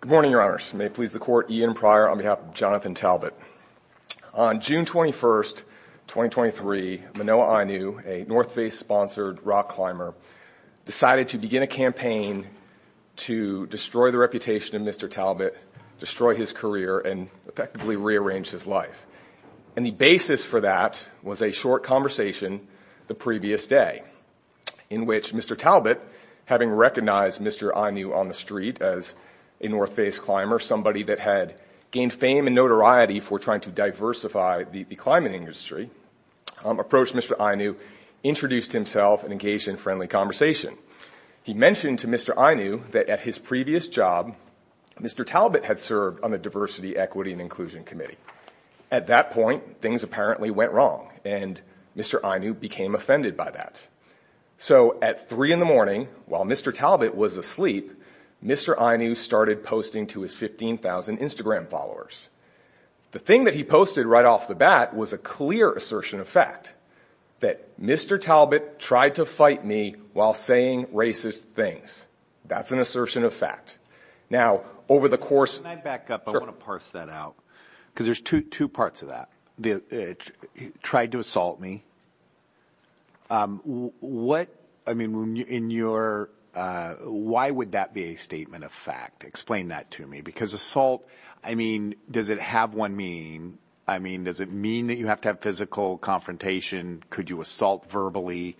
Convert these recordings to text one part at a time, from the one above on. Good morning, your honors. May it please the court, Ian Pryor on behalf of Jonathan Talbot. On June 21st, 2023, Manoa Ainu, a North Face sponsored rock climber, decided to begin a campaign to destroy the reputation of Mr. Talbot, destroy his career, and effectively rearrange his life. And the basis for that was a short conversation the previous day in which Mr. Talbot, having recognized Mr. Ainu on the street as a North Face climber, somebody that had gained fame and notoriety for trying to diversify the climbing industry, approached Mr. Ainu, introduced himself, and engaged in a friendly conversation. He mentioned to Mr. Ainu that at his previous job, Mr. Talbot had served on the Diversity, Equity, and Inclusion Committee. At that point, things apparently went wrong, and Mr. Ainu became offended by that. So at three in the morning, while Mr. Talbot was asleep, Mr. Ainu started posting to his 15,000 Instagram followers. The thing that he posted right off the bat was a clear assertion of fact, that Mr. Talbot tried to fight me while saying racist things. That's an assertion of fact. Now, over the course... Can I back up? I want to parse that out, because there's two parts of that. He tried to assault me. Why would that be a statement of fact? Explain that to me. Because assault, does it have one meaning? Does it mean that you have to have physical confrontation? Could you assault verbally?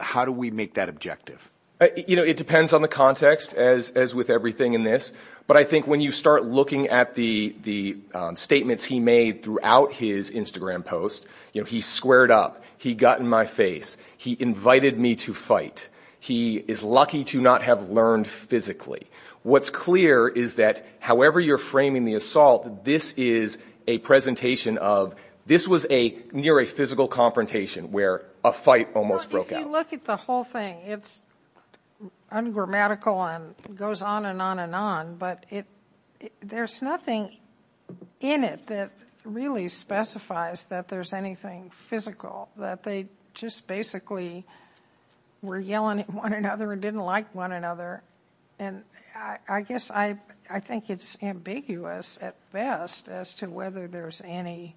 How do we make that objective? It depends on the context, as with everything in this. But I think when you start looking at the statements he made throughout his Instagram post, he squared up. He got in my face. He invited me to fight. He is lucky to not have learned physically. What's clear is that, however you're framing the assault, this is a presentation of... This was near a physical confrontation, where a fight almost broke out. Well, if you look at the whole thing, it's ungrammatical and goes on and on and on. But there's nothing in it that really specifies that there's anything physical, that they just basically were yelling at one another and didn't like one another. I think it's ambiguous at best as to whether there's any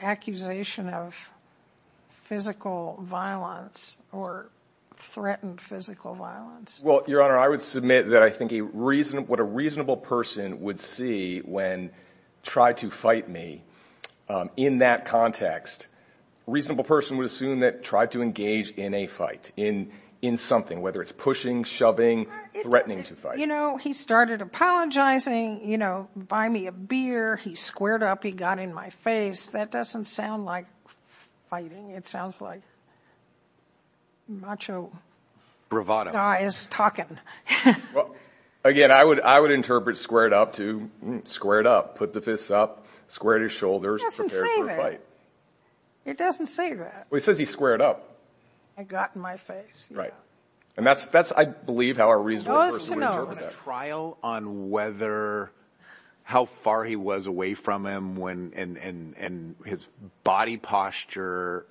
accusation of physical violence or threatened physical violence. Well, Your Honor, I would submit that I think what a reasonable person would see when tried to fight me in that context, a reasonable person would assume that tried to engage in a fight, in something, whether it's pushing, shoving, threatening to fight. He started apologizing, buy me a beer. He squared up. He got in my face. That doesn't sound like fighting. It sounds like macho guys talking. Again, I would interpret squared up to squared up, put the fists up, squared his shoulders, prepared for a fight. It doesn't say that. It says he squared up. I got in my face. Right. And that's, I believe, a reasonable person would interpret that. Is there a trial on whether how far he was away from him and his body posture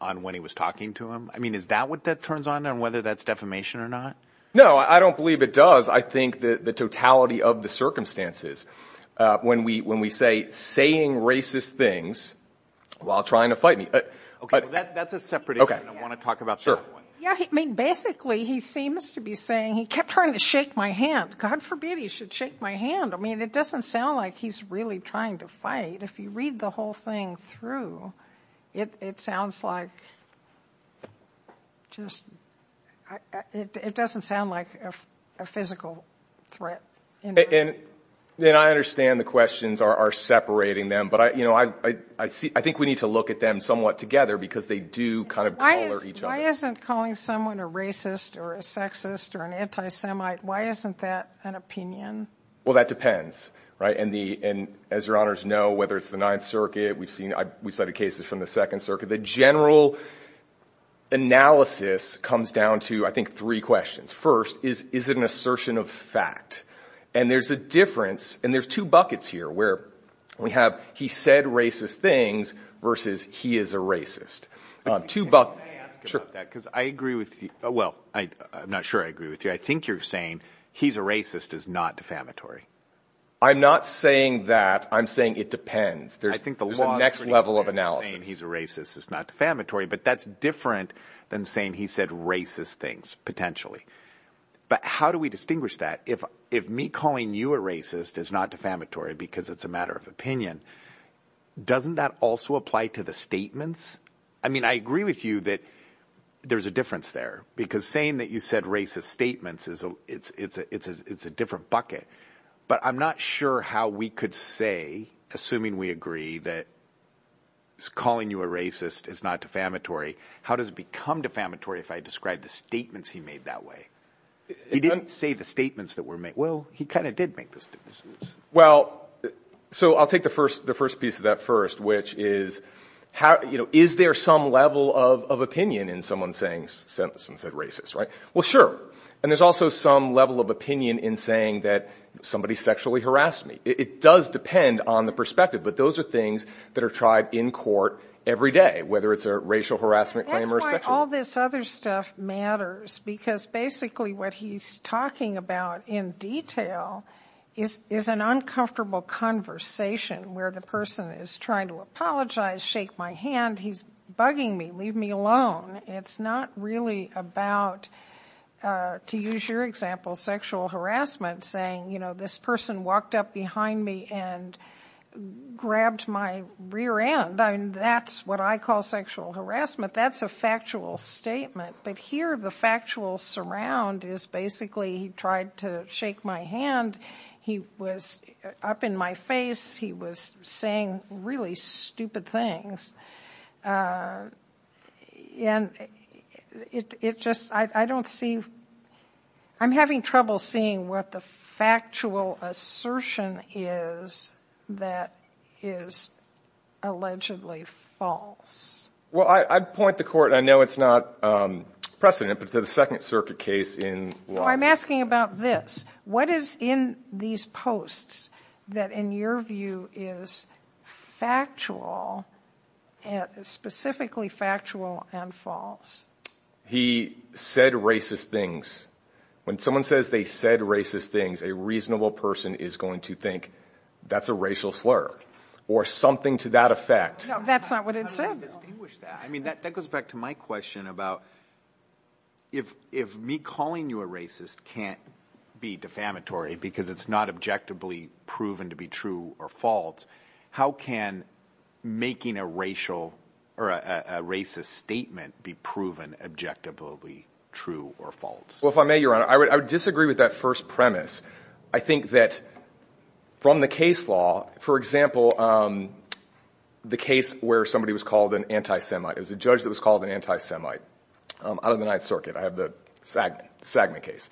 on when he was talking to him? I mean, is that what that turns on and whether that's defamation or not? No, I don't believe it does. I think the totality of the circumstances, when we say saying racist things while trying to fight me. That's a separate. I want to talk about. Sure. I mean, basically, he seems to be saying he kept trying to shake my hand. God forbid he should shake my hand. I mean, it doesn't sound like he's really trying to fight. If you read the whole thing through, it sounds like. Just it doesn't sound like a physical threat. And then I understand the questions are separating them. But, you know, I see I think we need to look at them somewhat together because they do kind of each. Why isn't calling someone a racist or a sexist or an anti-Semite? Why isn't that an opinion? Well, that depends. Right. And the and as your honors know, whether it's the Ninth Circuit, we've seen we cited cases from the Second Circuit. The general analysis comes down to, I think, three questions. First, is it an assertion of fact? And there's a difference. And there's two buckets here where we have he said racist things versus he is a racist. Two buck. Sure, because I agree with you. Well, I'm not sure I agree with you. I think you're saying he's a racist is not defamatory. I'm not saying that. I'm saying it depends. I think the next level of analysis, he's a racist is not defamatory, but that's different than saying he said racist things potentially. But how do we distinguish that if if me calling you a racist is not defamatory because it's a matter of opinion, doesn't that also apply to the statements? I mean, I agree with you that there's a difference there because saying that you said racist statements is it's a it's a it's a it's a different bucket. But I'm not sure how we could say, assuming we agree that. Calling you a racist is not defamatory. How does it become defamatory if I describe the statements he made that way? He didn't say the statements that were made. Well, he kind of did make the statements. Well, so I'll take the first the first piece of that first, which is how, you know, is there some level of opinion in someone saying something said racist? Right. Well, sure. And there's also some level of opinion in saying that somebody sexually harassed me. It does depend on the perspective. But those are things that are tried in court every day, whether it's a racial harassment claim or sexual. All this other stuff matters, because basically what he's talking about in detail is is an uncomfortable conversation where the person is trying to apologize. Shake my hand. He's bugging me. Leave me alone. It's not really about, to use your example, sexual harassment, saying, you know, this person walked up behind me and grabbed my rear end. I mean, that's what I call sexual harassment. That's a factual statement. But here, the factual surround is basically he tried to shake my hand. He was up in my face. He was saying really stupid things. And it just I don't see I'm having trouble seeing what the factual assertion is that is allegedly false. Well, I'd point the court. I know it's not precedent, but to the Second Circuit case in law, I'm asking about this. What is in these posts that, in your view, is factual and specifically factual and false? He said racist things. When someone says they said racist things, a reasonable person is going to think that's a racial slur or something to that effect. That's not what it said. I mean, that goes back to my question about if if me calling you a racist can't be defamatory because it's not objectively proven to be true or false, how can making a racial or a racist statement be proven objectively true or false? Well, if I may, Your Honor, I would disagree with that first premise. I think that from the case law, for example, the case where somebody was called an anti-Semite, it was a judge that was called an anti-Semite out of the Ninth Circuit. I have the Sagman case.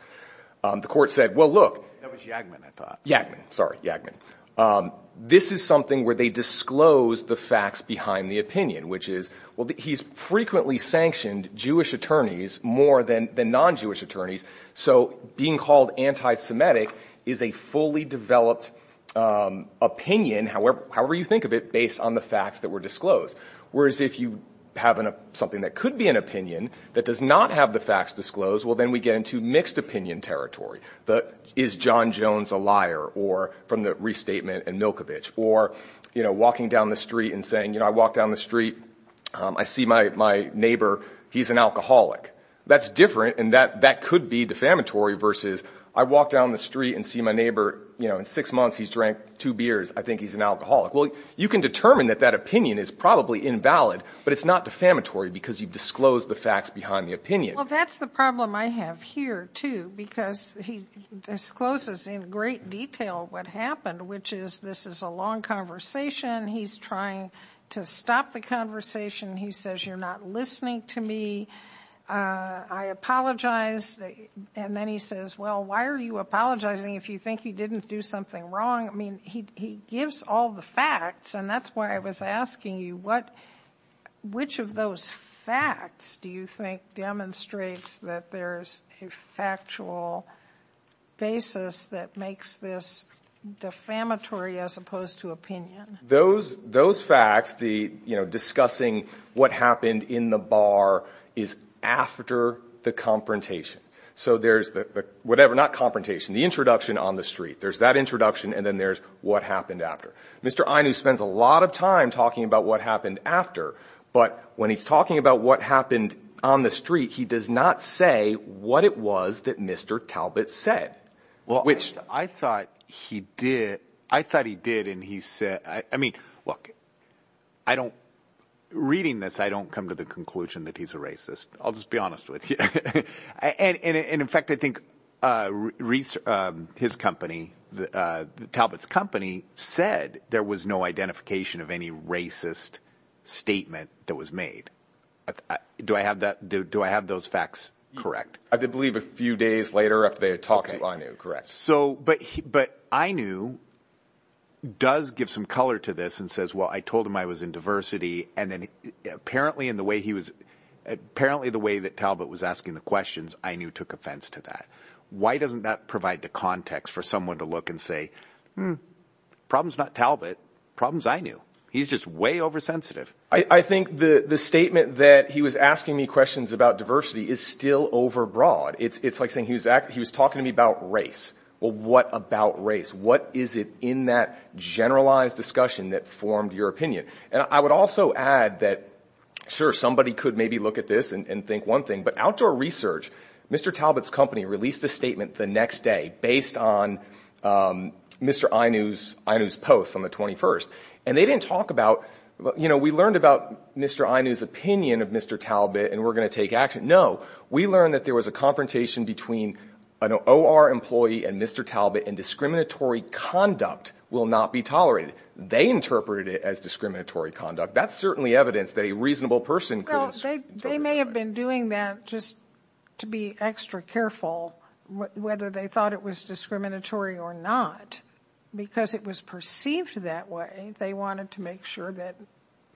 The court said, well, look, that was Yagmin, I thought. Yagmin, sorry, Yagmin. This is something where they disclose the facts behind the opinion, which is, well, he's frequently sanctioned Jewish attorneys more than the non-Jewish attorneys. So being called anti-Semitic is a fully developed opinion, however you think of it, based on the facts that were disclosed. Whereas if you have something that could be an opinion that does not have the facts disclosed, well, then we get into mixed opinion territory. But is John Jones a liar or from the restatement and Milkovich or, you know, walking down the street and saying, you know, I walk down the street, I see my neighbor, he's an alcoholic. That's different. And that that could be defamatory versus I walk down the street and see my neighbor, you know, in six months he's drank two beers. I can determine that that opinion is probably invalid, but it's not defamatory because you've disclosed the facts behind the opinion. Well, that's the problem I have here too, because he discloses in great detail what happened, which is, this is a long conversation. He's trying to stop the conversation. He says, you're not listening to me. I apologize. And then he says, well, why are you apologizing if you think he didn't do something wrong? I mean, he gives all the facts. And that's why I was asking you what, which of those facts do you think demonstrates that there's a factual basis that makes this defamatory as opposed to opinion? Those, those facts, the, you know, discussing what happened in the bar is after the confrontation. So there's the whatever, not confrontation, the introduction on the street, there's that introduction. And then there's what happened after. Mr. Ainu spends a lot of time talking about what happened after, but when he's talking about what happened on the street, he does not say what it was that Mr. Talbot said. Well, which I thought he did. I thought he did. And he said, I mean, look, I don't, reading this, I don't come to the conclusion that he's a racist. I'll just be honest with you. And in fact, I think his company, Talbot's company said there was no identification of any racist statement that was made. Do I have that? Do I have those facts correct? I believe a few days later after they talked to Ainu, correct. So, but, but Ainu does give some color to this and says, well, I told him I was in diversity. And then apparently in the way he was, apparently the way that Talbot was asking the questions, Ainu took offense to that. Why doesn't that provide the context for someone to look and say, problem's not Talbot, problem's Ainu. He's just way oversensitive. I think the statement that he was asking me questions about diversity is still overbroad. It's like saying he was talking to me about race. Well, what about race? What is it in that generalized discussion that formed your opinion? And I would also add that, sure, somebody could maybe look at this and think one thing, but outdoor research, Mr. Talbot's company released a statement the next day based on Mr. Ainu's posts on the 21st. And they didn't talk about, you know, we learned about Mr. Ainu's opinion of Mr. Talbot and we're going to take action. No, we learned that there was a confrontation between an OR employee and Mr. Talbot and discriminatory conduct will not be tolerated. They interpreted it as discriminatory conduct. That's certainly evidence that a reasonable person could- Well, they may have been doing that just to be extra careful whether they thought it was discriminatory or not, because it was perceived that way. They wanted to make sure that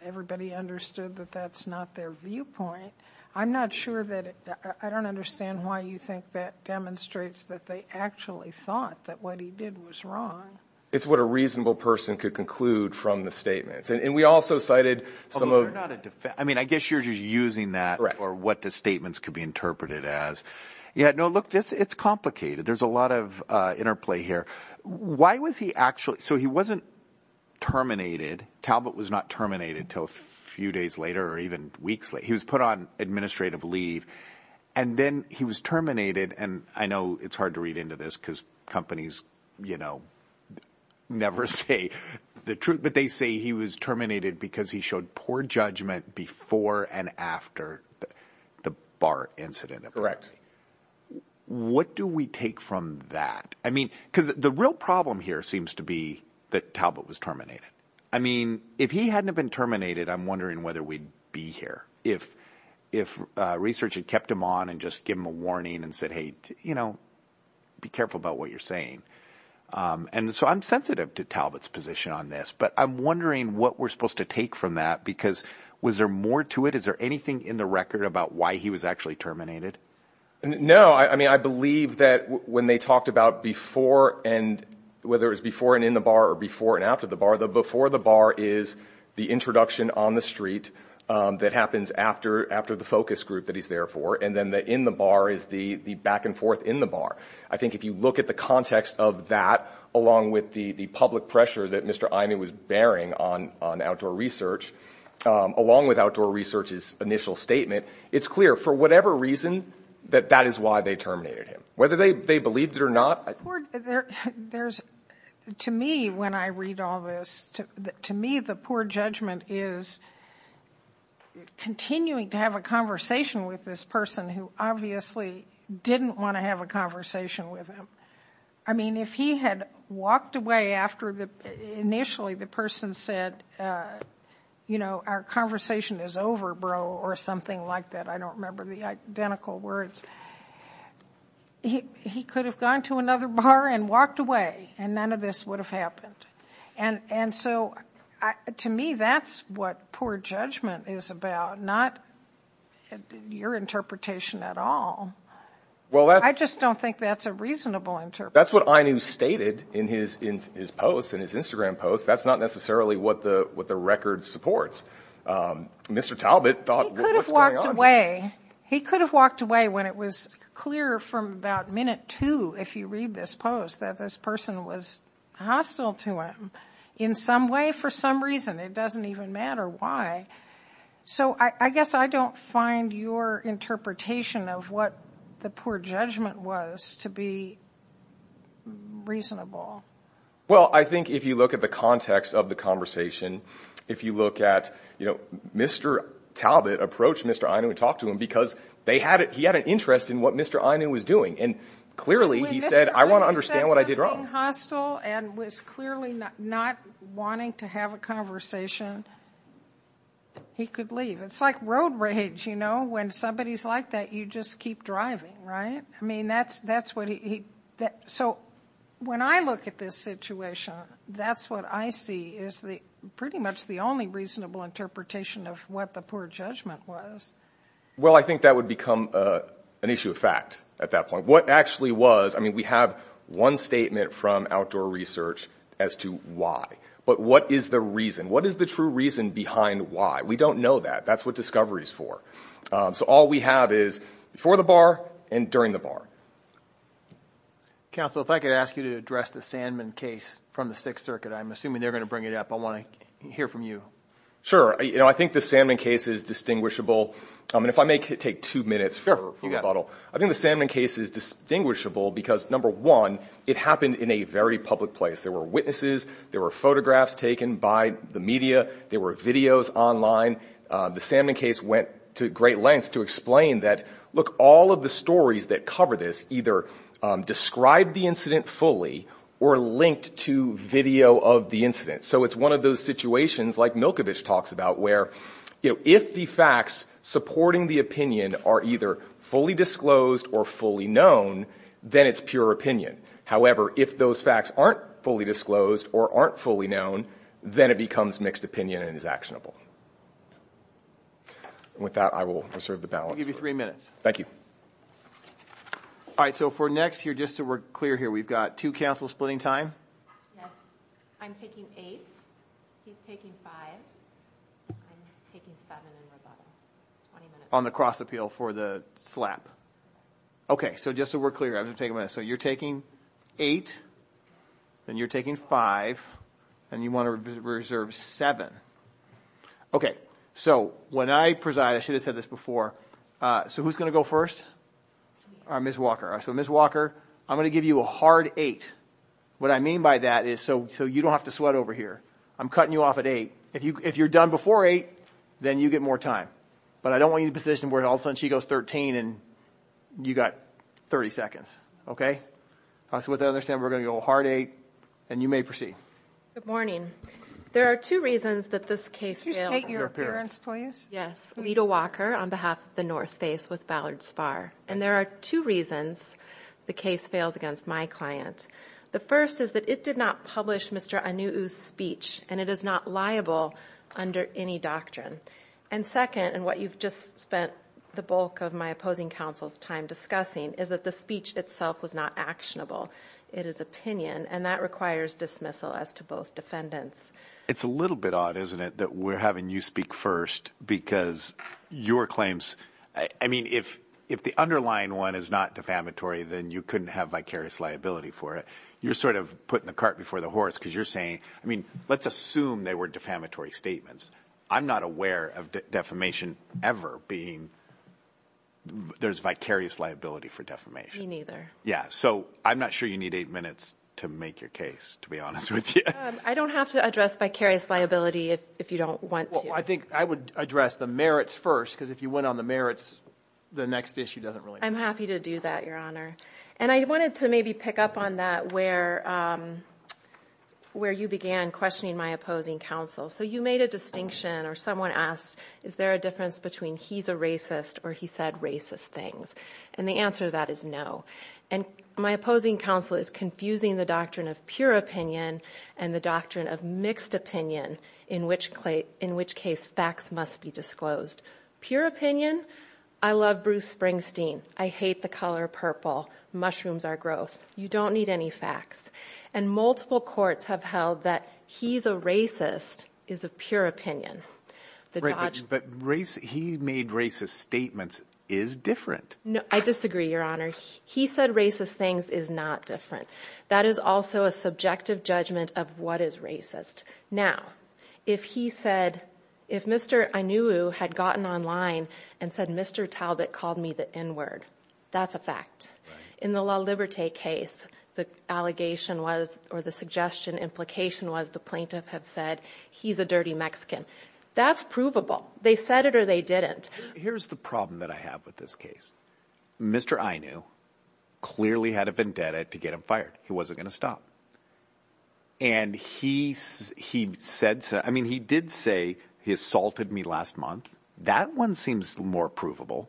everybody understood that that's not their viewpoint. I'm not sure that, I don't understand why you think that demonstrates that they actually thought that what he did was wrong. It's what a reasonable person could conclude from the statements. And we also cited some of- I mean, I guess you're just using that or what the statements could be interpreted as. Yeah, no, look, it's complicated. There's a lot of interplay here. Why was he actually, so he wasn't terminated. Talbot was not terminated until a few days later or even weeks later. He was put on administrative leave and then he was terminated. And I know it's hard to read into this because companies never say the truth, but they say he was terminated because he showed poor judgment before and after the BART incident. What do we take from that? I mean, because the real problem here seems to be that Talbot was terminated. I mean, if he hadn't have been terminated, I'm wondering whether we'd be here. If research had kept him on and just give him a warning and said, hey, be careful about what you're saying. And so I'm sensitive to Talbot's position on this, but I'm wondering what we're supposed to take from that, because was there more to it? Is there anything in the record about why he was actually terminated? No. I mean, I believe that when they talked about before and whether it was before and in the BAR or before and after the BAR, the before the BAR is the introduction on the street that happens after the focus group that he's there for. And then the in the BAR is the back and forth in the BAR. I think if you look at the context of that, along with the public pressure that Mr. Iman was bearing on outdoor research, along with outdoor research's initial statement, it's clear for whatever reason that that is why they terminated him. Whether they believed it or not. To me, when I read all this, to me, the poor judgment is continuing to have a conversation with this person who obviously didn't want to have a conversation with him. I mean, if he had walked away after the initially the person said, you know, our conversation is over, bro, or something like that. I don't remember the identical words. He could have gone to another bar and walked away and none of this would have happened. And so to me, that's what poor judgment is about, not your interpretation at all. Well, I just don't think that's a reasonable interpretation. That's what INU stated in his post, in his Instagram post. That's not necessarily what the record supports. Mr. Talbot thought, what's going on? He could have walked away when it was clear from about minute two, if you read this post, that this person was hostile to him in some way, for some reason. It doesn't even matter why. So I guess I don't find your interpretation of what the poor judgment was to be reasonable. Well, I think if you look at the context of the conversation, if you look at, you know, Mr. Talbot approached Mr. INU and talked to him because they had it. He had an interest in what Mr. INU was doing. And clearly he said, I want to understand what I did wrong. Hostile and was clearly not wanting to have a conversation. He could leave. It's like road rage, you know, when somebody is like that, you just keep driving, right? I mean, that's, that's what he, that, so when I look at this situation, that's what I see is the pretty much the only reasonable interpretation of what the poor judgment was. Well, I think that would become an issue of fact at that point. What actually was, I mean, we have one statement from outdoor research as to why, but what is the reason? What is the true reason behind why? We don't know that. That's what discovery is for. So all we have is before the bar and during the bar. Counsel, if I could ask you to address the Sandman case from the sixth circuit, I'm assuming they're going to bring it up. I want to hear from you. Sure. You know, I think the Sandman case is distinguishable. And if I may take two minutes for rebuttal, I think the Sandman case is distinguishable because number one, it happened in a very public place. There were witnesses, there were photographs taken by the media. There were videos online. The Sandman case went to great lengths to explain that, look, all of the stories that cover this either describe the incident fully or linked to video of the incident. So it's one of those situations like Milkovich talks about where, you know, if the facts supporting the opinion are either fully disclosed or fully known, then it's pure opinion. However, if those facts aren't fully disclosed or aren't fully known, then it becomes mixed opinion and is actionable. With that, I will reserve the balance. I'll give you three minutes. Thank you. All right. So for next year, just so we're clear here, we've got two counsel splitting time. I'm taking eight. He's taking five. On the cross appeal for the slap. Okay. So just so we're clear, I'm going to take a minute. So you're taking eight and you're taking five and you want to reserve seven. Okay. So when I preside, I should have said this before. So who's going to go first? Ms. Walker. So Ms. Walker, I'm going to give you a hard eight. What I mean by that is so you don't have to sweat over here. I'm cutting you off at eight. If you're done before eight, then you get more time. But I don't want you to be in a position where all of a sudden she goes 13 and you got 30 seconds. Okay. So with that, I understand we're going to go hard eight and you may proceed. Good morning. There are two reasons that this case failed. Could you state your appearance please? Yes. Lita Walker on behalf of the North Face with Ballard Spar. And there are two reasons the case fails against my client. The first is that it did not publish Mr. Anu'u's speech and it is not liable under any doctrine. And second, and what you've just spent the bulk of my opposing counsel's time discussing, is that the speech itself was not actionable. It is opinion and that requires dismissal as to both defendants. It's a little bit odd, isn't it, that we're having you speak first because your claims, I mean, if the underlying one is not defamatory, then you couldn't have vicarious liability for it. You're sort of putting the cart before the horse because you're saying, I mean, let's assume they were defamatory statements. I'm not aware of defamation ever being, there's vicarious liability for defamation. Me neither. Yeah. So I'm not sure you need eight minutes to make your case, to be honest with you. I don't have to address vicarious liability if you don't want to. Well, I think I would address the merits first because if you went on the merits, the next issue doesn't really matter. I'm happy to do that, Your Honor. And I wanted to maybe pick up on that where you began questioning my opposing counsel. So you made a distinction or someone asked, is there a difference between he's a racist or he said racist things? And the answer to that is no. And my opposing counsel is confusing the doctrine of pure opinion and the doctrine of mixed opinion, in which case facts must be disclosed. Pure opinion, I love Bruce Springsteen. I hate the color purple. Mushrooms are gross. You don't need any facts. And multiple courts have held that he's a racist is a pure opinion. He made racist statements is different. No, I disagree, Your Honor. He said racist things is not different. That is also a subjective judgment of what is racist. Now, if he said, if Mr. Inouye had gotten online and said, Mr. Talbot called me the N-word, that's a fact. In the La Liberté case, the allegation was or the suggestion implication was the plaintiff have said he's a dirty Mexican. That's provable. They said it or they didn't. Here's the problem that I have with this case. Mr. Inouye clearly had a vendetta to get him fired. He wasn't going to stop. And he said, I mean, he did say he assaulted me last month. That one seems more provable.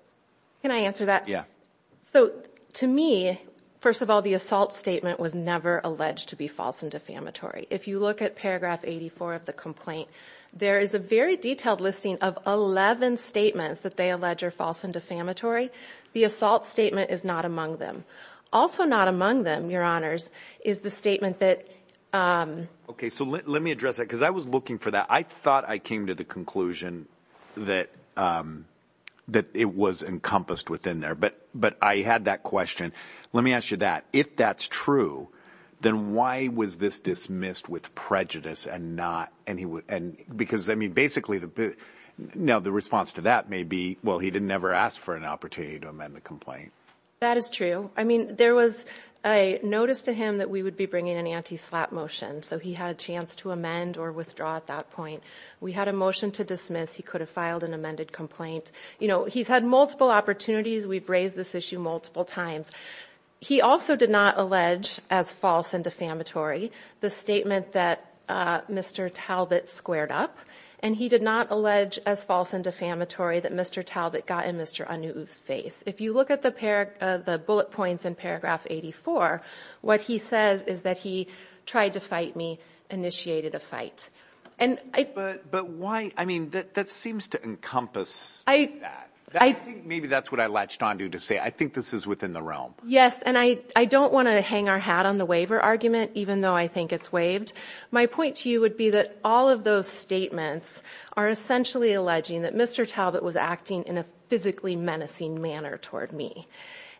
Can I answer that? Yeah. So to me, first of all, the assault statement was never alleged to be false and defamatory. If you look at paragraph 84 of the complaint, there is a very detailed listing of 11 statements that they allege are false and defamatory. The assault statement is not among them. Also not among them, your honors, is the statement that... Okay. So let me address that because I was looking for that. I thought I came to the conclusion that it was encompassed within there. But I had that question. Let me ask you that. If that's true, then why was this dismissed with prejudice and not... Because I mean, basically now the response to that may be, well, he didn't never ask for an opportunity to amend the complaint. That is true. I mean, there was a notice to him that we would be bringing an anti-slap motion. So he had a chance to amend or withdraw at that point. We had a motion to dismiss. He could have filed an amended complaint. He's had multiple opportunities. We've raised this issue multiple times. He also did not allege as false and defamatory the statement that Mr. Talbot squared up. And he did not allege as false and defamatory that Mr. Talbot got in Mr. Anu'u's face. If you look at the bullet points in paragraph 84, what he says is that he tried to fight me, initiated a fight. But why? I mean, that seems to encompass that. I think maybe that's what I latched onto to say, I think this is within the realm. Yes. And I don't want to hang our hat on the waiver argument, even though I think it's waived. My point to you would be that all of those statements are essentially alleging that Mr. Talbot was acting in a physically menacing manner toward me.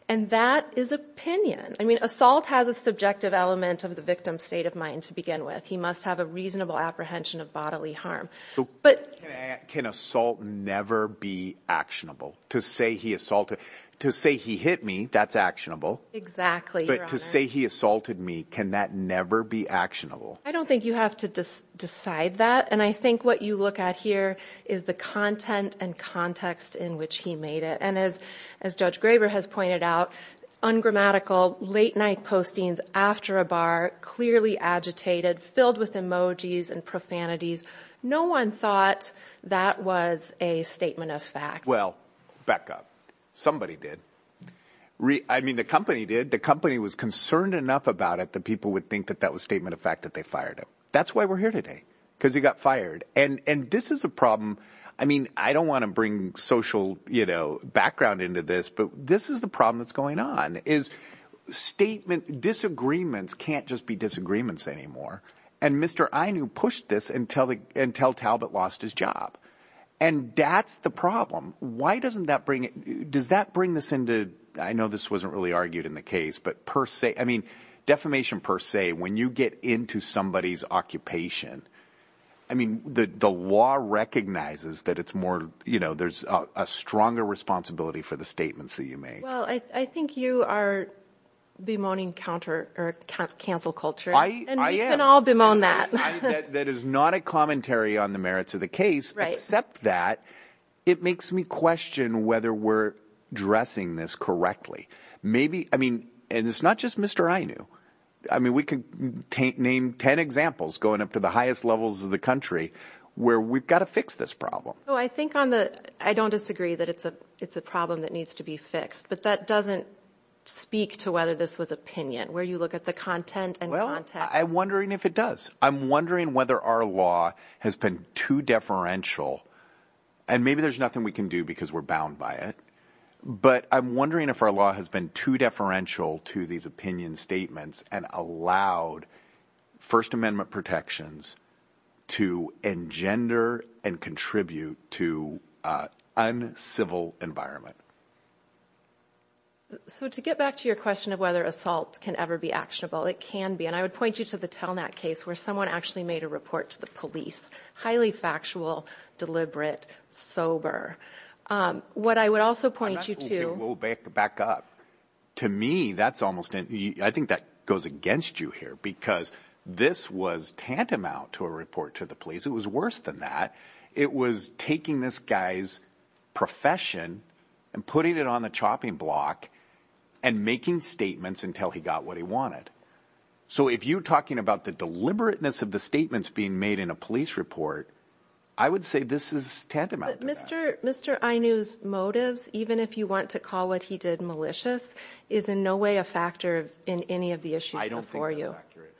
And that is opinion. I mean, assault has a subjective element of the victim's state of mind to begin with. He must have a reasonable apprehension of bodily harm. Can assault never be actionable? To say he assaulted, to say he hit me, that's actionable. Exactly. But to say he assaulted me, can that never be actionable? I don't think you have to decide that. And I think what you look at here is the content and context in which he made it. And as Judge Graber has pointed out, ungrammatical, late night postings after a bar, clearly agitated, filled with emojis and profanities. No one thought that was a statement of fact. Well, back up. Somebody did. I mean, the company did. The company was concerned enough about it that people would think that that was statement of fact that they fired him. That's why we're here today, because he got fired. And this is a problem. I mean, I don't want to bring social background into this, but this is the problem that's going on, is disagreements can't just be disagreements anymore. And Mr. Ainu pushed this until Talbot lost his job. And that's the problem. Why doesn't that bring it? Does that bring this into, I know this wasn't really argued in the I mean, the law recognizes that it's more, you know, there's a stronger responsibility for the statements that you made. Well, I think you are bemoaning counter or cancel culture. I am. And we can all bemoan that. That is not a commentary on the merits of the case, except that it makes me question whether we're addressing this correctly. Maybe, I mean, and it's not just Mr. Ainu. I mean, we can name 10 examples going up to the highest levels of the country where we've got to fix this problem. I think on the, I don't disagree that it's a problem that needs to be fixed, but that doesn't speak to whether this was opinion where you look at the content and content. I'm wondering if it does. I'm wondering whether our law has been too deferential and maybe there's nothing we can do because we're bound by it. But I'm wondering if our law has been too deferential to these opinion statements and allowed First Amendment protections to engender and contribute to an uncivil environment. So to get back to your question of whether assault can ever be actionable, it can be. And I would point you to the Telnet case where someone actually made a report to the police, highly factual, deliberate, sober. What I would also point you to- I'm not hoping we'll back up. To me, that's almost, I think that goes against you here, because this was tantamount to a report to the police. It was worse than that. It was taking this guy's profession and putting it on the chopping block and making statements until he got what he wanted. So if you're talking about the deliberateness of the statements being made in a police report, I would say this is tantamount to that. But Mr. Inouye's motives, even if you want to call what he did malicious, is in no way a factor in any of the issues before you. I don't think that's accurate.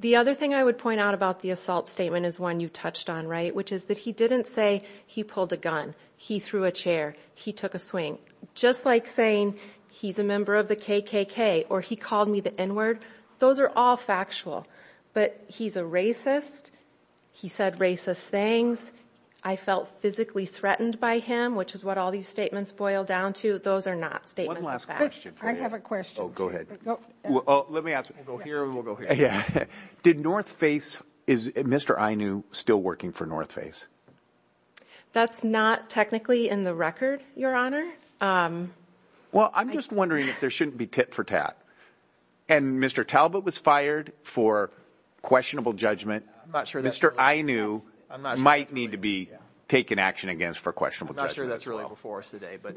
The other thing I would point out about the assault statement is one you touched on, right, which is that he didn't say he pulled a gun, he threw a chair, he took a swing. Just like saying he's a member of the KKK or he called me the N-word. Those are all factual. But he's a racist. He said racist things. I felt physically threatened by him, which is what all these statements boil down to. Those are not statements of fact. I have a question. Oh, go ahead. Let me ask. We'll go here or we'll go here. Yeah. Did North Face, is Mr. Inouye still working for North Face? That's not technically in the record, Your Honor. Um, well, I'm just wondering if there shouldn't be tit for tat. And Mr. Talbot was fired for questionable judgment. I'm not sure. Mr. Inouye might need to be taken action against for questionable judgment. I'm not sure that's really before us today, but.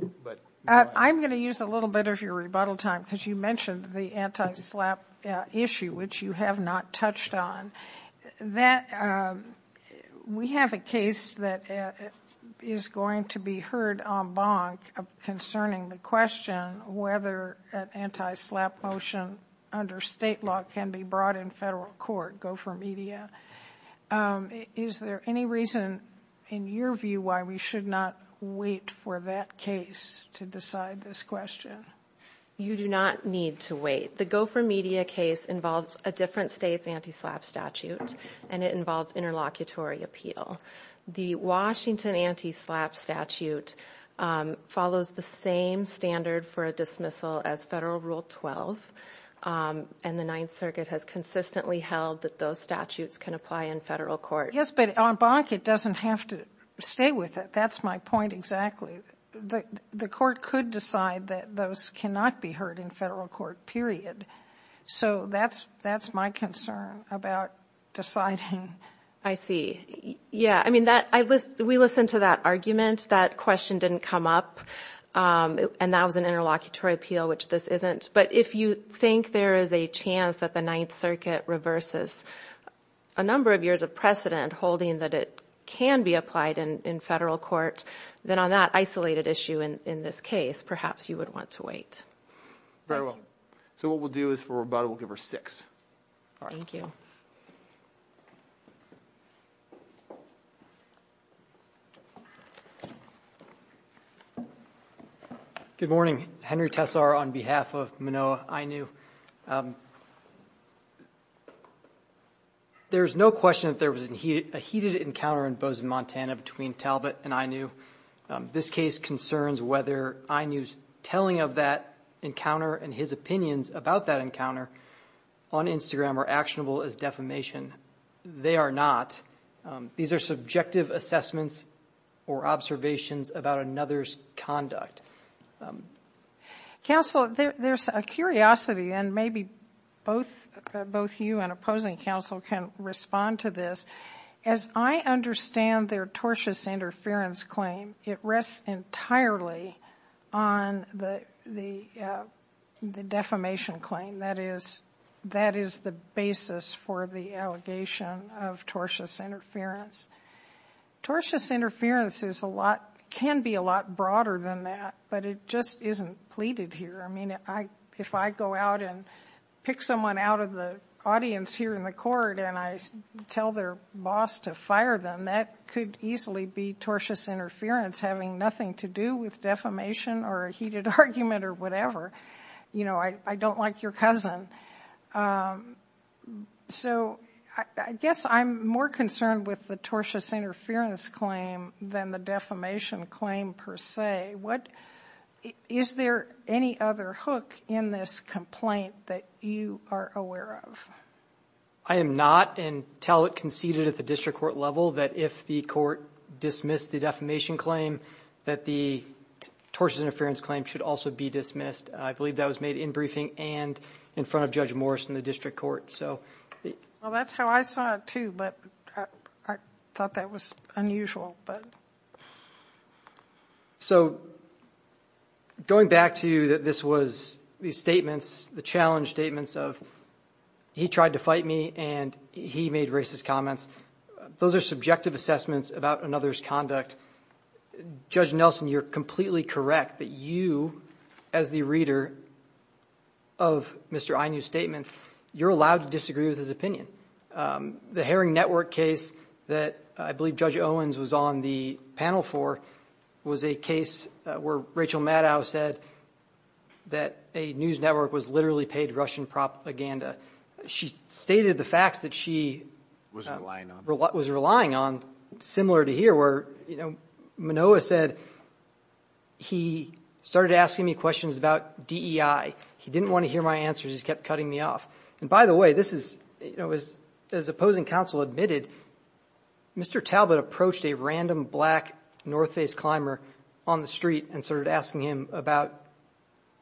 I'm going to use a little bit of your rebuttal time because you mentioned the anti-SLAPP issue, which you have not touched on. That, um, we have a case that is going to be heard en banc concerning the question whether an anti-SLAPP motion under state law can be brought in federal court, Gopher Media. Is there any reason in your view why we should not wait for that case to decide this question? You do not need to wait. The Gopher Media case involves a different state's anti-SLAPP statute, and it involves interlocutory appeal. The Washington anti-SLAPP statute follows the same standard for a dismissal as Federal Rule 12, and the Ninth Circuit has consistently held that those statutes can apply in federal court. Yes, but en banc, it doesn't have to stay with it. That's my point exactly. The court could decide that those cannot be heard in federal court, period. So that's my concern about deciding. I see. Yeah, I mean, we listened to that argument. That question didn't come up, and that was an interlocutory appeal, which this isn't. But if you think there is a chance that the Ninth Circuit reverses a number of years of precedent holding that it can be applied in federal court, then on that isolated issue in this case, perhaps you would want to wait. Very well. So what we'll do is, for rebuttal, we'll give her six. Thank you. Good morning. Henry Tessar on behalf of Minoa INU. There's no question that there was a heated encounter in Bozeman, Montana, between Talbot and INU. This case concerns whether INU's telling of that encounter and his opinions about that encounter on Instagram are actionable as defamation. They are not. These are subjective assessments or observations about another's conduct. Counsel, there's a curiosity, and maybe both you and opposing counsel can respond to this. As I understand their tortious interference claim, it rests entirely on the defamation claim. That is the basis for the allegation of tortious interference. Tortious interference can be a lot broader than that, but it just isn't pleaded here. If I go out and pick someone out of the audience here in the court, and I tell their boss to fire them, that could easily be tortious interference having nothing to do with defamation or a heated argument or whatever. You know, I don't like your cousin. So I guess I'm more concerned with the tortious interference claim than the defamation claim per se. Is there any other hook in this complaint that you are aware of? I am not and tell it conceded at the district court level that if the court dismissed the defamation claim, that the tortious interference claim should also be dismissed. I believe that was made in briefing and in front of Judge Morris in the district court. Well, that's how I saw it too, but I thought that was unusual. So going back to you that this was these statements, the challenge statements of he tried to fight me and he made racist comments. Those are subjective assessments about another's conduct. Judge Nelson, you're completely correct that you, as the reader of Mr. Inouye's statements, you're allowed to disagree with his opinion. The Herring Network case that I believe Judge Owens was on the panel for was a case where Rachel Maddow said that a news network was literally paid Russian propaganda. She stated the facts that she was relying on similar to here where, you know, Manoa said he started asking me questions about DEI. He didn't want to hear my answers. He just kept cutting me off. And by the way, this is, you know, as opposing counsel admitted, Mr. Talbot approached a random black North Face climber on the street and started asking him about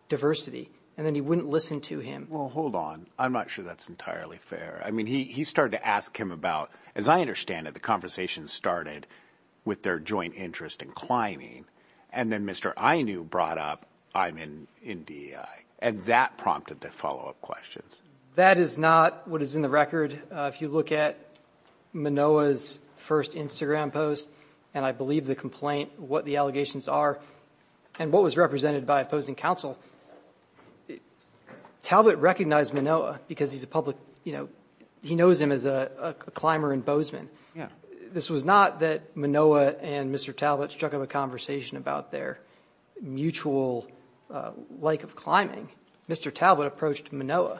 diversity. And then he wouldn't listen to him. Well, hold on. I'm not sure that's entirely fair. I mean, he started to ask him about, as I understand it, the conversation started with their joint interest in climbing. And then Mr. Inouye brought up I'm in DEI and that prompted the follow up questions. That is not what is in the record. If you look at Manoa's first Instagram post, and I believe the complaint, what the allegations are and what was represented by opposing counsel, Talbot recognized Manoa because he's a public, you know, he knows him as a climber and bozeman. This was not that Manoa and Mr. Talbot struck up a conversation about their mutual like of climbing. Mr. Talbot approached Manoa.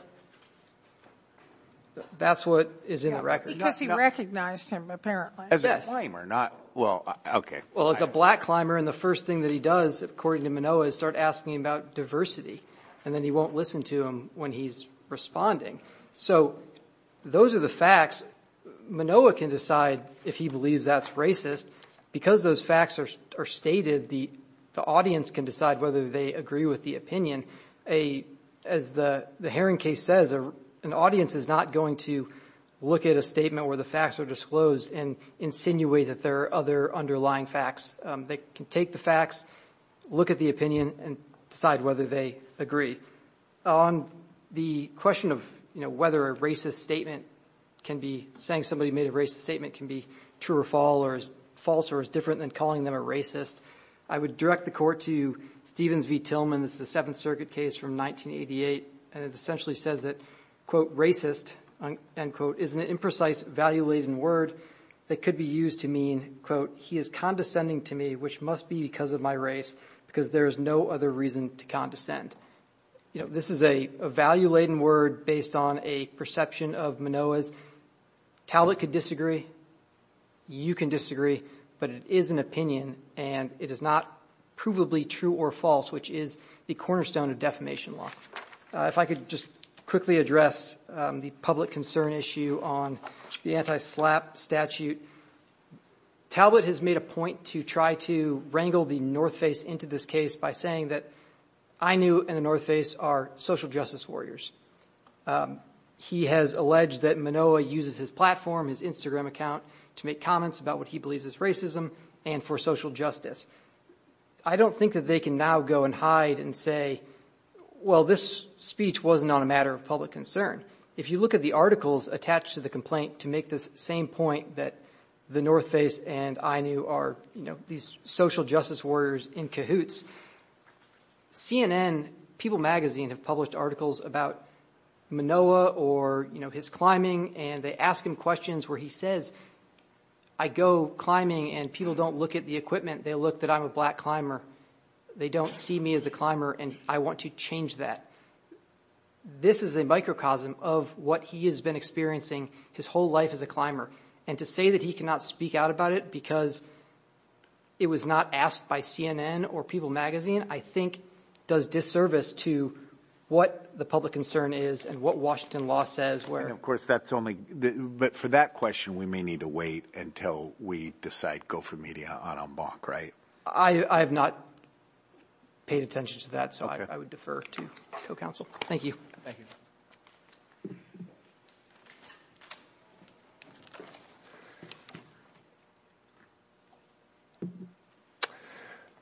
That's what is in the record. Because he recognized him, apparently. As a climber, not, well, OK. Well, as a black climber. And the first thing that he does, according to Manoa, is start asking him about diversity. And then he won't listen to him when he's responding. So those are the facts. Manoa can decide if he believes that's racist because those facts are stated. The audience can decide whether they agree with the opinion. A, as the Herring case says, an audience is not going to look at a statement where the facts are disclosed and insinuate that there are other underlying facts. They can take the facts, look at the opinion and decide whether they agree. On the question of, you know, whether a racist statement can be, saying somebody made a racist statement can be true or false or as different than calling them a racist. I would direct the court to Stevens v. Tillman. This is a Seventh Circuit case from 1988. And it essentially says that, quote, racist, end quote, is an imprecise, value-laden word that could be used to mean, quote, he is condescending to me, which must be because of my race, because there is no other reason to condescend. You know, this is a value-laden word based on a perception of Manoa's. Talbot could disagree. You can disagree. But it is an opinion and it is not provably true or false, which is the cornerstone of defamation law. If I could just quickly address the public concern issue on the anti-SLAPP statute. Talbot has made a point to try to wrangle the North Face into this case by saying that I knew in the North Face are social justice warriors. He has alleged that Manoa uses his platform, his Instagram account, to make comments about what he believes is racism and for social justice. I don't think that they can now go and hide and say, well, this speech wasn't on a matter of public concern. If you look at the articles attached to the complaint to make this same point that the North Face and I knew are, you know, these social justice warriors in cahoots. CNN, People magazine have published articles about Manoa or, you know, his climbing and they ask him questions where he says, I go climbing and people don't look at the equipment. They look that I'm a black climber. They don't see me as a climber. And I want to change that. This is a microcosm of what he has been experiencing his whole life as a climber. And to say that he cannot speak out about it because it was not asked by CNN or People magazine, I think does disservice to what the public concern is and what Washington law says. Of course, that's only but for that question, we may need to wait until we decide go for media on a mock, right? I have not paid attention to that. So I would defer to the council. Thank you.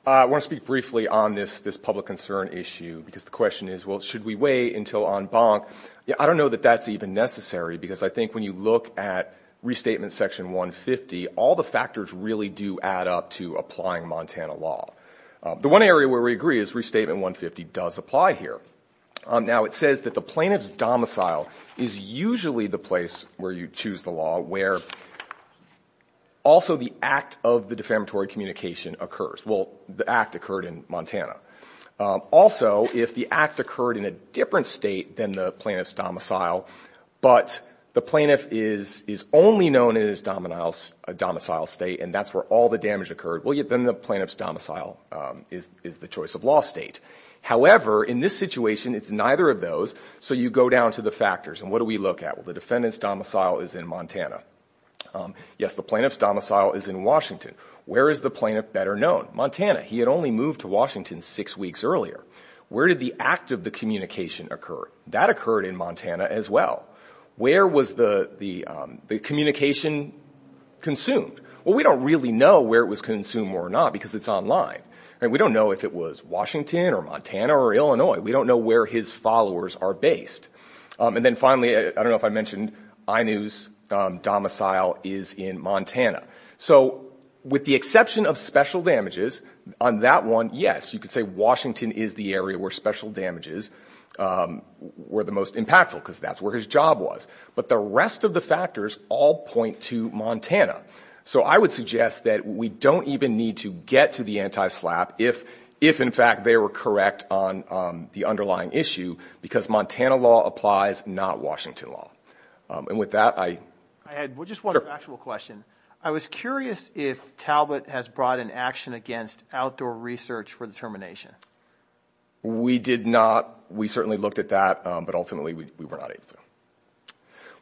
I want to speak briefly on this, this public concern issue, because the question is, well, should we wait until on bonk? I don't know that that's even necessary, because I think when you look at Restatement Section 150, all the factors really do add up to applying Montana law. The one area where we agree is Restatement 150 does apply here. Now, it says that the plaintiff's domicile is usually the place where you choose the law where also the act of the defamatory communication occurs. Well, the act occurred in Montana. Also, if the act occurred in a different state than the plaintiff's domicile, but the plaintiff is only known as domicile state, and that's where all the damage occurred, well, then the plaintiff's domicile is the choice of law state. However, in this situation, it's neither of those. So you go down to the factors. And what do we look at? Well, the defendant's domicile is in Montana. Yes, the plaintiff's domicile is in Washington. Where is the plaintiff better known? Montana. He had only moved to Washington six weeks earlier. Where did the act of the communication occur? That occurred in Montana as well. Where was the communication consumed? Well, we don't really know where it was consumed or not because it's online. We don't know if it was Washington or Montana or Illinois. We don't know where his followers are based. And then finally, I don't know if I mentioned INOO's domicile is in Montana. So with the exception of special damages, on that one, yes, you could say Washington is the area where special damages were the most impactful because that's where his job was. But the rest of the factors all point to Montana. So I would suggest that we don't even need to get to the anti-SLAPP if, in fact, they were correct on the underlying issue because Montana law applies, not Washington law. And with that, I had just one actual question. I was curious if Talbot has brought in action against outdoor research for the termination. We did not. We certainly looked at that, but ultimately we were not able to.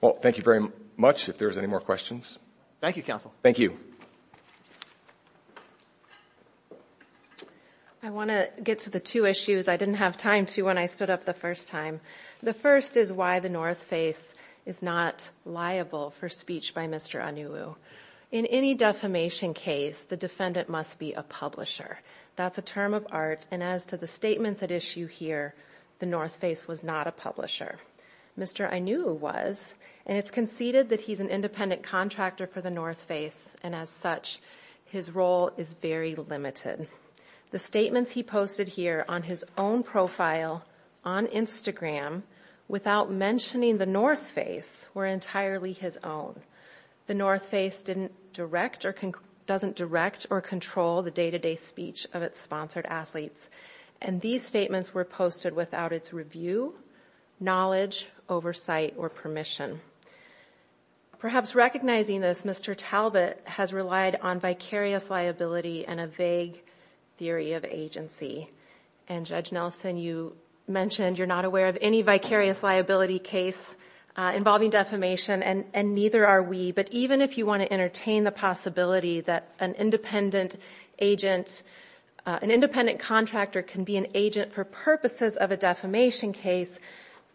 Well, thank you very much. If there's any more questions. Thank you, counsel. Thank you. I want to get to the two issues I didn't have time to when I stood up the first time. The first is why the North Face is not liable for speech by Mr. INOO. In any defamation case, the defendant must be a publisher. That's a term of art. And as to the statements at issue here, the North Face was not a publisher. Mr. INOO was. And it's conceded that he's an independent contractor for the North Face. And as such, his role is very limited. The statements he posted here on his own profile, on Instagram, without mentioning the North Face were entirely his own. The North Face didn't direct or doesn't direct or control the day-to-day speech of its sponsored athletes. And these statements were posted without its review, knowledge, oversight or permission. Perhaps recognizing this, Mr. Talbot has relied on vicarious liability and a vague theory of agency. And Judge Nelson, you mentioned you're not aware of any vicarious liability case involving defamation, and neither are we. But even if you want to entertain the possibility that an independent agent, an independent contractor can be an agent for purposes of a defamation case,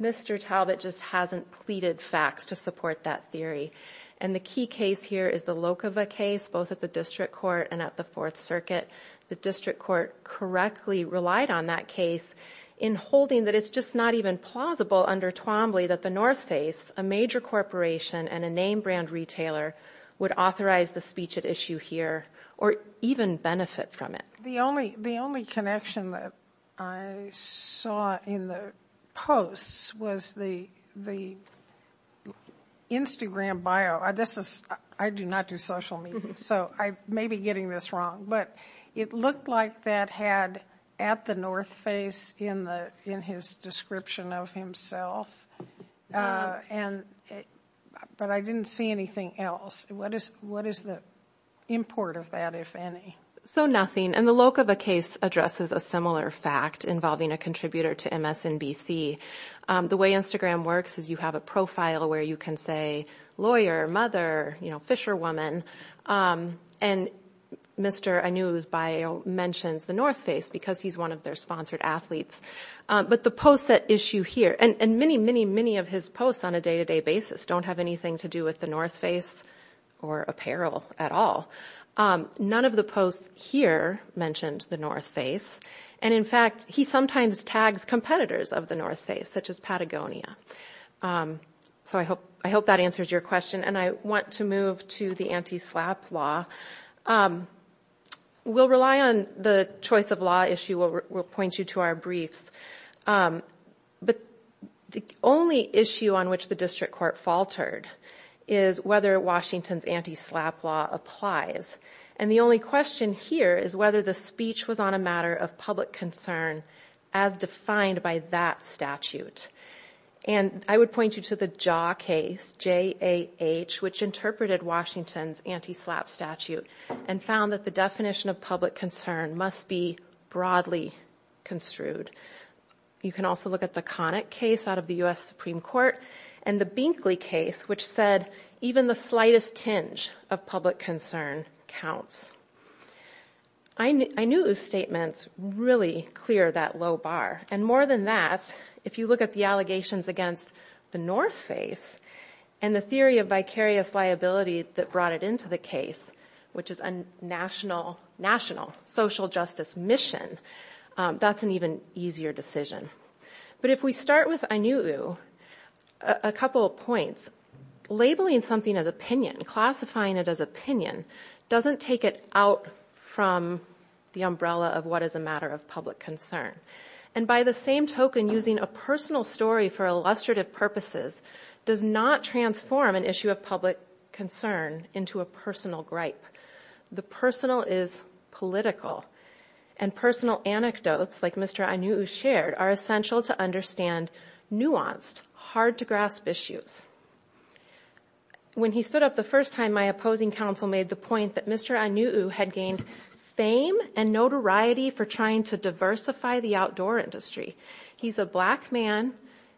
Mr. Talbot just hasn't pleaded facts to support that theory. And the key case here is the Lokova case, both at the District Court and at the Fourth Circuit. The District Court correctly relied on that case in holding that it's just not even plausible under Twombly that the North Face, a major corporation and a name brand retailer, would authorize the speech at issue here or even benefit from it. The only connection that I saw in the posts was the Instagram bio. I do not do social media, so I may be getting this wrong. But it looked like that had at the North Face in his description of himself. But I didn't see anything else. What is the import of that, if any? So nothing. The Lokova case addresses a similar fact involving a contributor to MSNBC. The way Instagram works is you have a profile where you can say lawyer, mother, Fisherwoman. And Mr. Anu's bio mentions the North Face because he's one of their sponsored athletes. But the posts at issue here, and many, many, many of his posts on a day-to-day basis don't have anything to do with the North Face or apparel at all. None of the posts here mentioned the North Face. And in fact, he sometimes tags competitors of the North Face, such as Patagonia. So I hope that answers your question. And I want to move to the anti-SLAPP law. We'll rely on the choice of law issue. We'll point you to our briefs. But the only issue on which the district court faltered is whether Washington's anti-SLAPP law applies. And the only question here is whether the speech was on a matter of public concern as defined by that statute. And I would point you to the JAH case, J-A-H, which interpreted Washington's anti-SLAPP statute and found that the definition of public concern must be broadly construed. You can also look at the Connick case out of the U.S. Supreme Court and the Binkley case, which said even the slightest tinge of public concern counts. Ainu'u's statements really clear that low bar. And more than that, if you look at the allegations against the North Face and the theory of vicarious liability that brought it into the case, which is a national social justice mission, that's an even easier decision. But if we start with Ainu'u, a couple of points. Labeling something as opinion, classifying it as opinion, doesn't take it out from the umbrella of what is a matter of public concern. And by the same token, using a personal story for illustrative purposes does not transform an issue of public concern into a personal gripe. The personal is political. And personal anecdotes, like Mr. Ainu'u shared, are essential to understand nuanced, hard-to-grasp issues. When he stood up the first time, my opposing counsel made the point that Mr. Ainu'u had gained fame and notoriety for trying to diversify the outdoor industry. He's a black man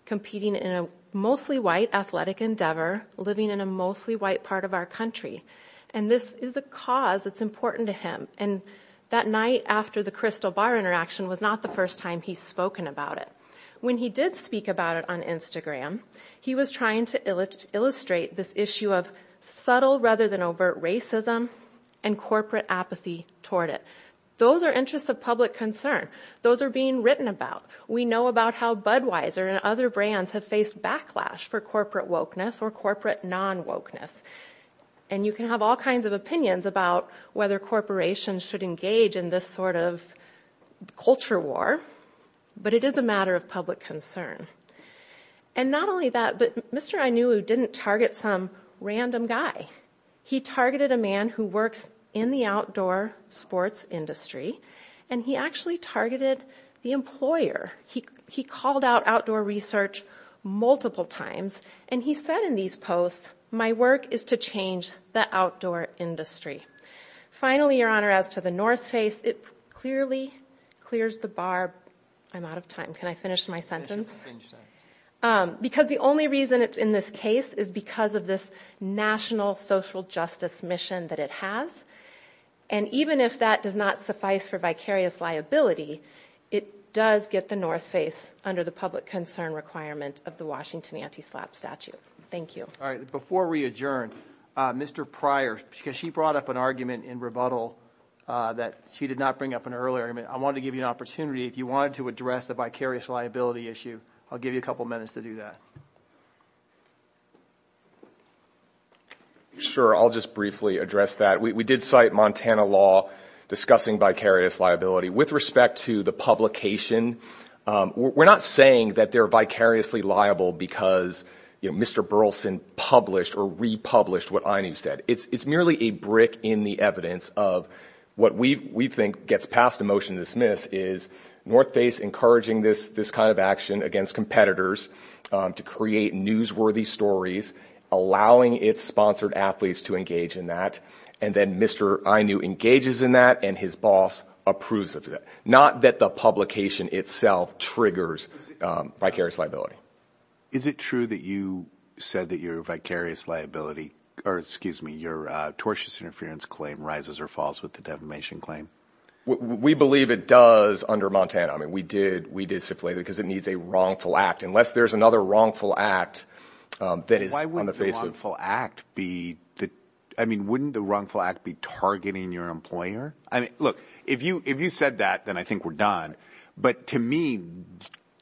competing in a mostly white athletic endeavor, living in a mostly white part of our country. And this is a cause that's important to him. And that night after the Crystal Bar interaction was not the first time he's spoken about it. When he did speak about it on Instagram, he was trying to illustrate this issue of subtle rather than overt racism and corporate apathy toward it. Those are interests of public concern. Those are being written about. We know about how Budweiser and other brands have faced backlash for corporate wokeness or corporate non-wokeness. And you can have all kinds of opinions about whether corporations should engage in this sort of culture war. But it is a matter of public concern. And not only that, but Mr. Ainu'u didn't target some random guy. He targeted a man who works in the outdoor sports industry. And he actually targeted the employer. He called out outdoor research multiple times. And he said in these posts, my work is to change the outdoor industry. Finally, your honor, as to the North Face, it clearly clears the bar. I'm out of time. Can I finish my sentence? Because the only reason it's in this case is because of this national social justice mission that it has. And even if that does not suffice for vicarious liability, it does get the North Face under the public concern requirement of the Washington anti-SLAPP statute. Thank you. All right. Before we adjourn, Mr. Pryor, because she brought up an argument in rebuttal that she did not bring up an earlier. I wanted to give you an opportunity, if you wanted to address the vicarious liability issue, I'll give you a couple minutes to do that. Sure, I'll just briefly address that. We did cite Montana law discussing vicarious liability. With respect to the publication, we're not saying that they're vicariously liable because Mr. Burleson published or republished what AINU said. It's merely a brick in the evidence of what we think gets passed a motion to dismiss is North Face encouraging this kind of action against competitors to create newsworthy stories, allowing its sponsored athletes to engage in that. And then Mr. AINU engages in that and his boss approves of that. Not that the publication itself triggers vicarious liability. Is it true that you said that your vicarious liability, or excuse me, your tortious interference claim rises or falls with the defamation claim? We believe it does under Montana. I mean, we did stipulate it because it needs a wrongful act. Unless there's another wrongful act that is on the face of- Why wouldn't the wrongful act be, I mean, wouldn't the wrongful act be targeting your employer? I mean, look, if you said that, then I think we're done. But to me,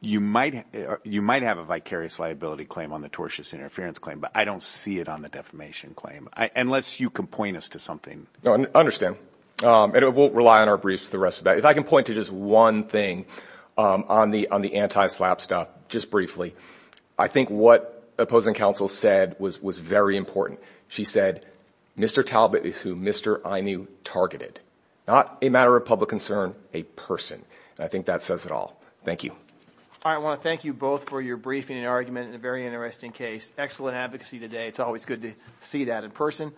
you might have a vicarious liability claim on the tortious interference claim, but I don't see it on the defamation claim. Unless you can point us to something. No, I understand. And we'll rely on our briefs for the rest of that. If I can point to just one thing on the anti-SLAPP stuff, just briefly, I think what opposing counsel said was very important. She said, Mr. Talbot is who Mr. AINU targeted. Not a matter of public concern, a person. I think that says it all. Thank you. All right. I want to thank you both for your briefing and argument in a very interesting case. Excellent advocacy today. It's always good to see that in person.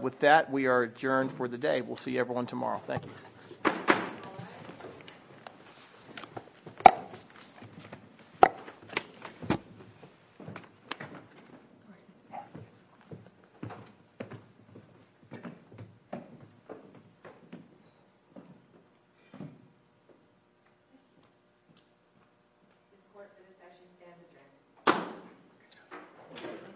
With that, we are adjourned for the day. We'll see everyone tomorrow. Thank you.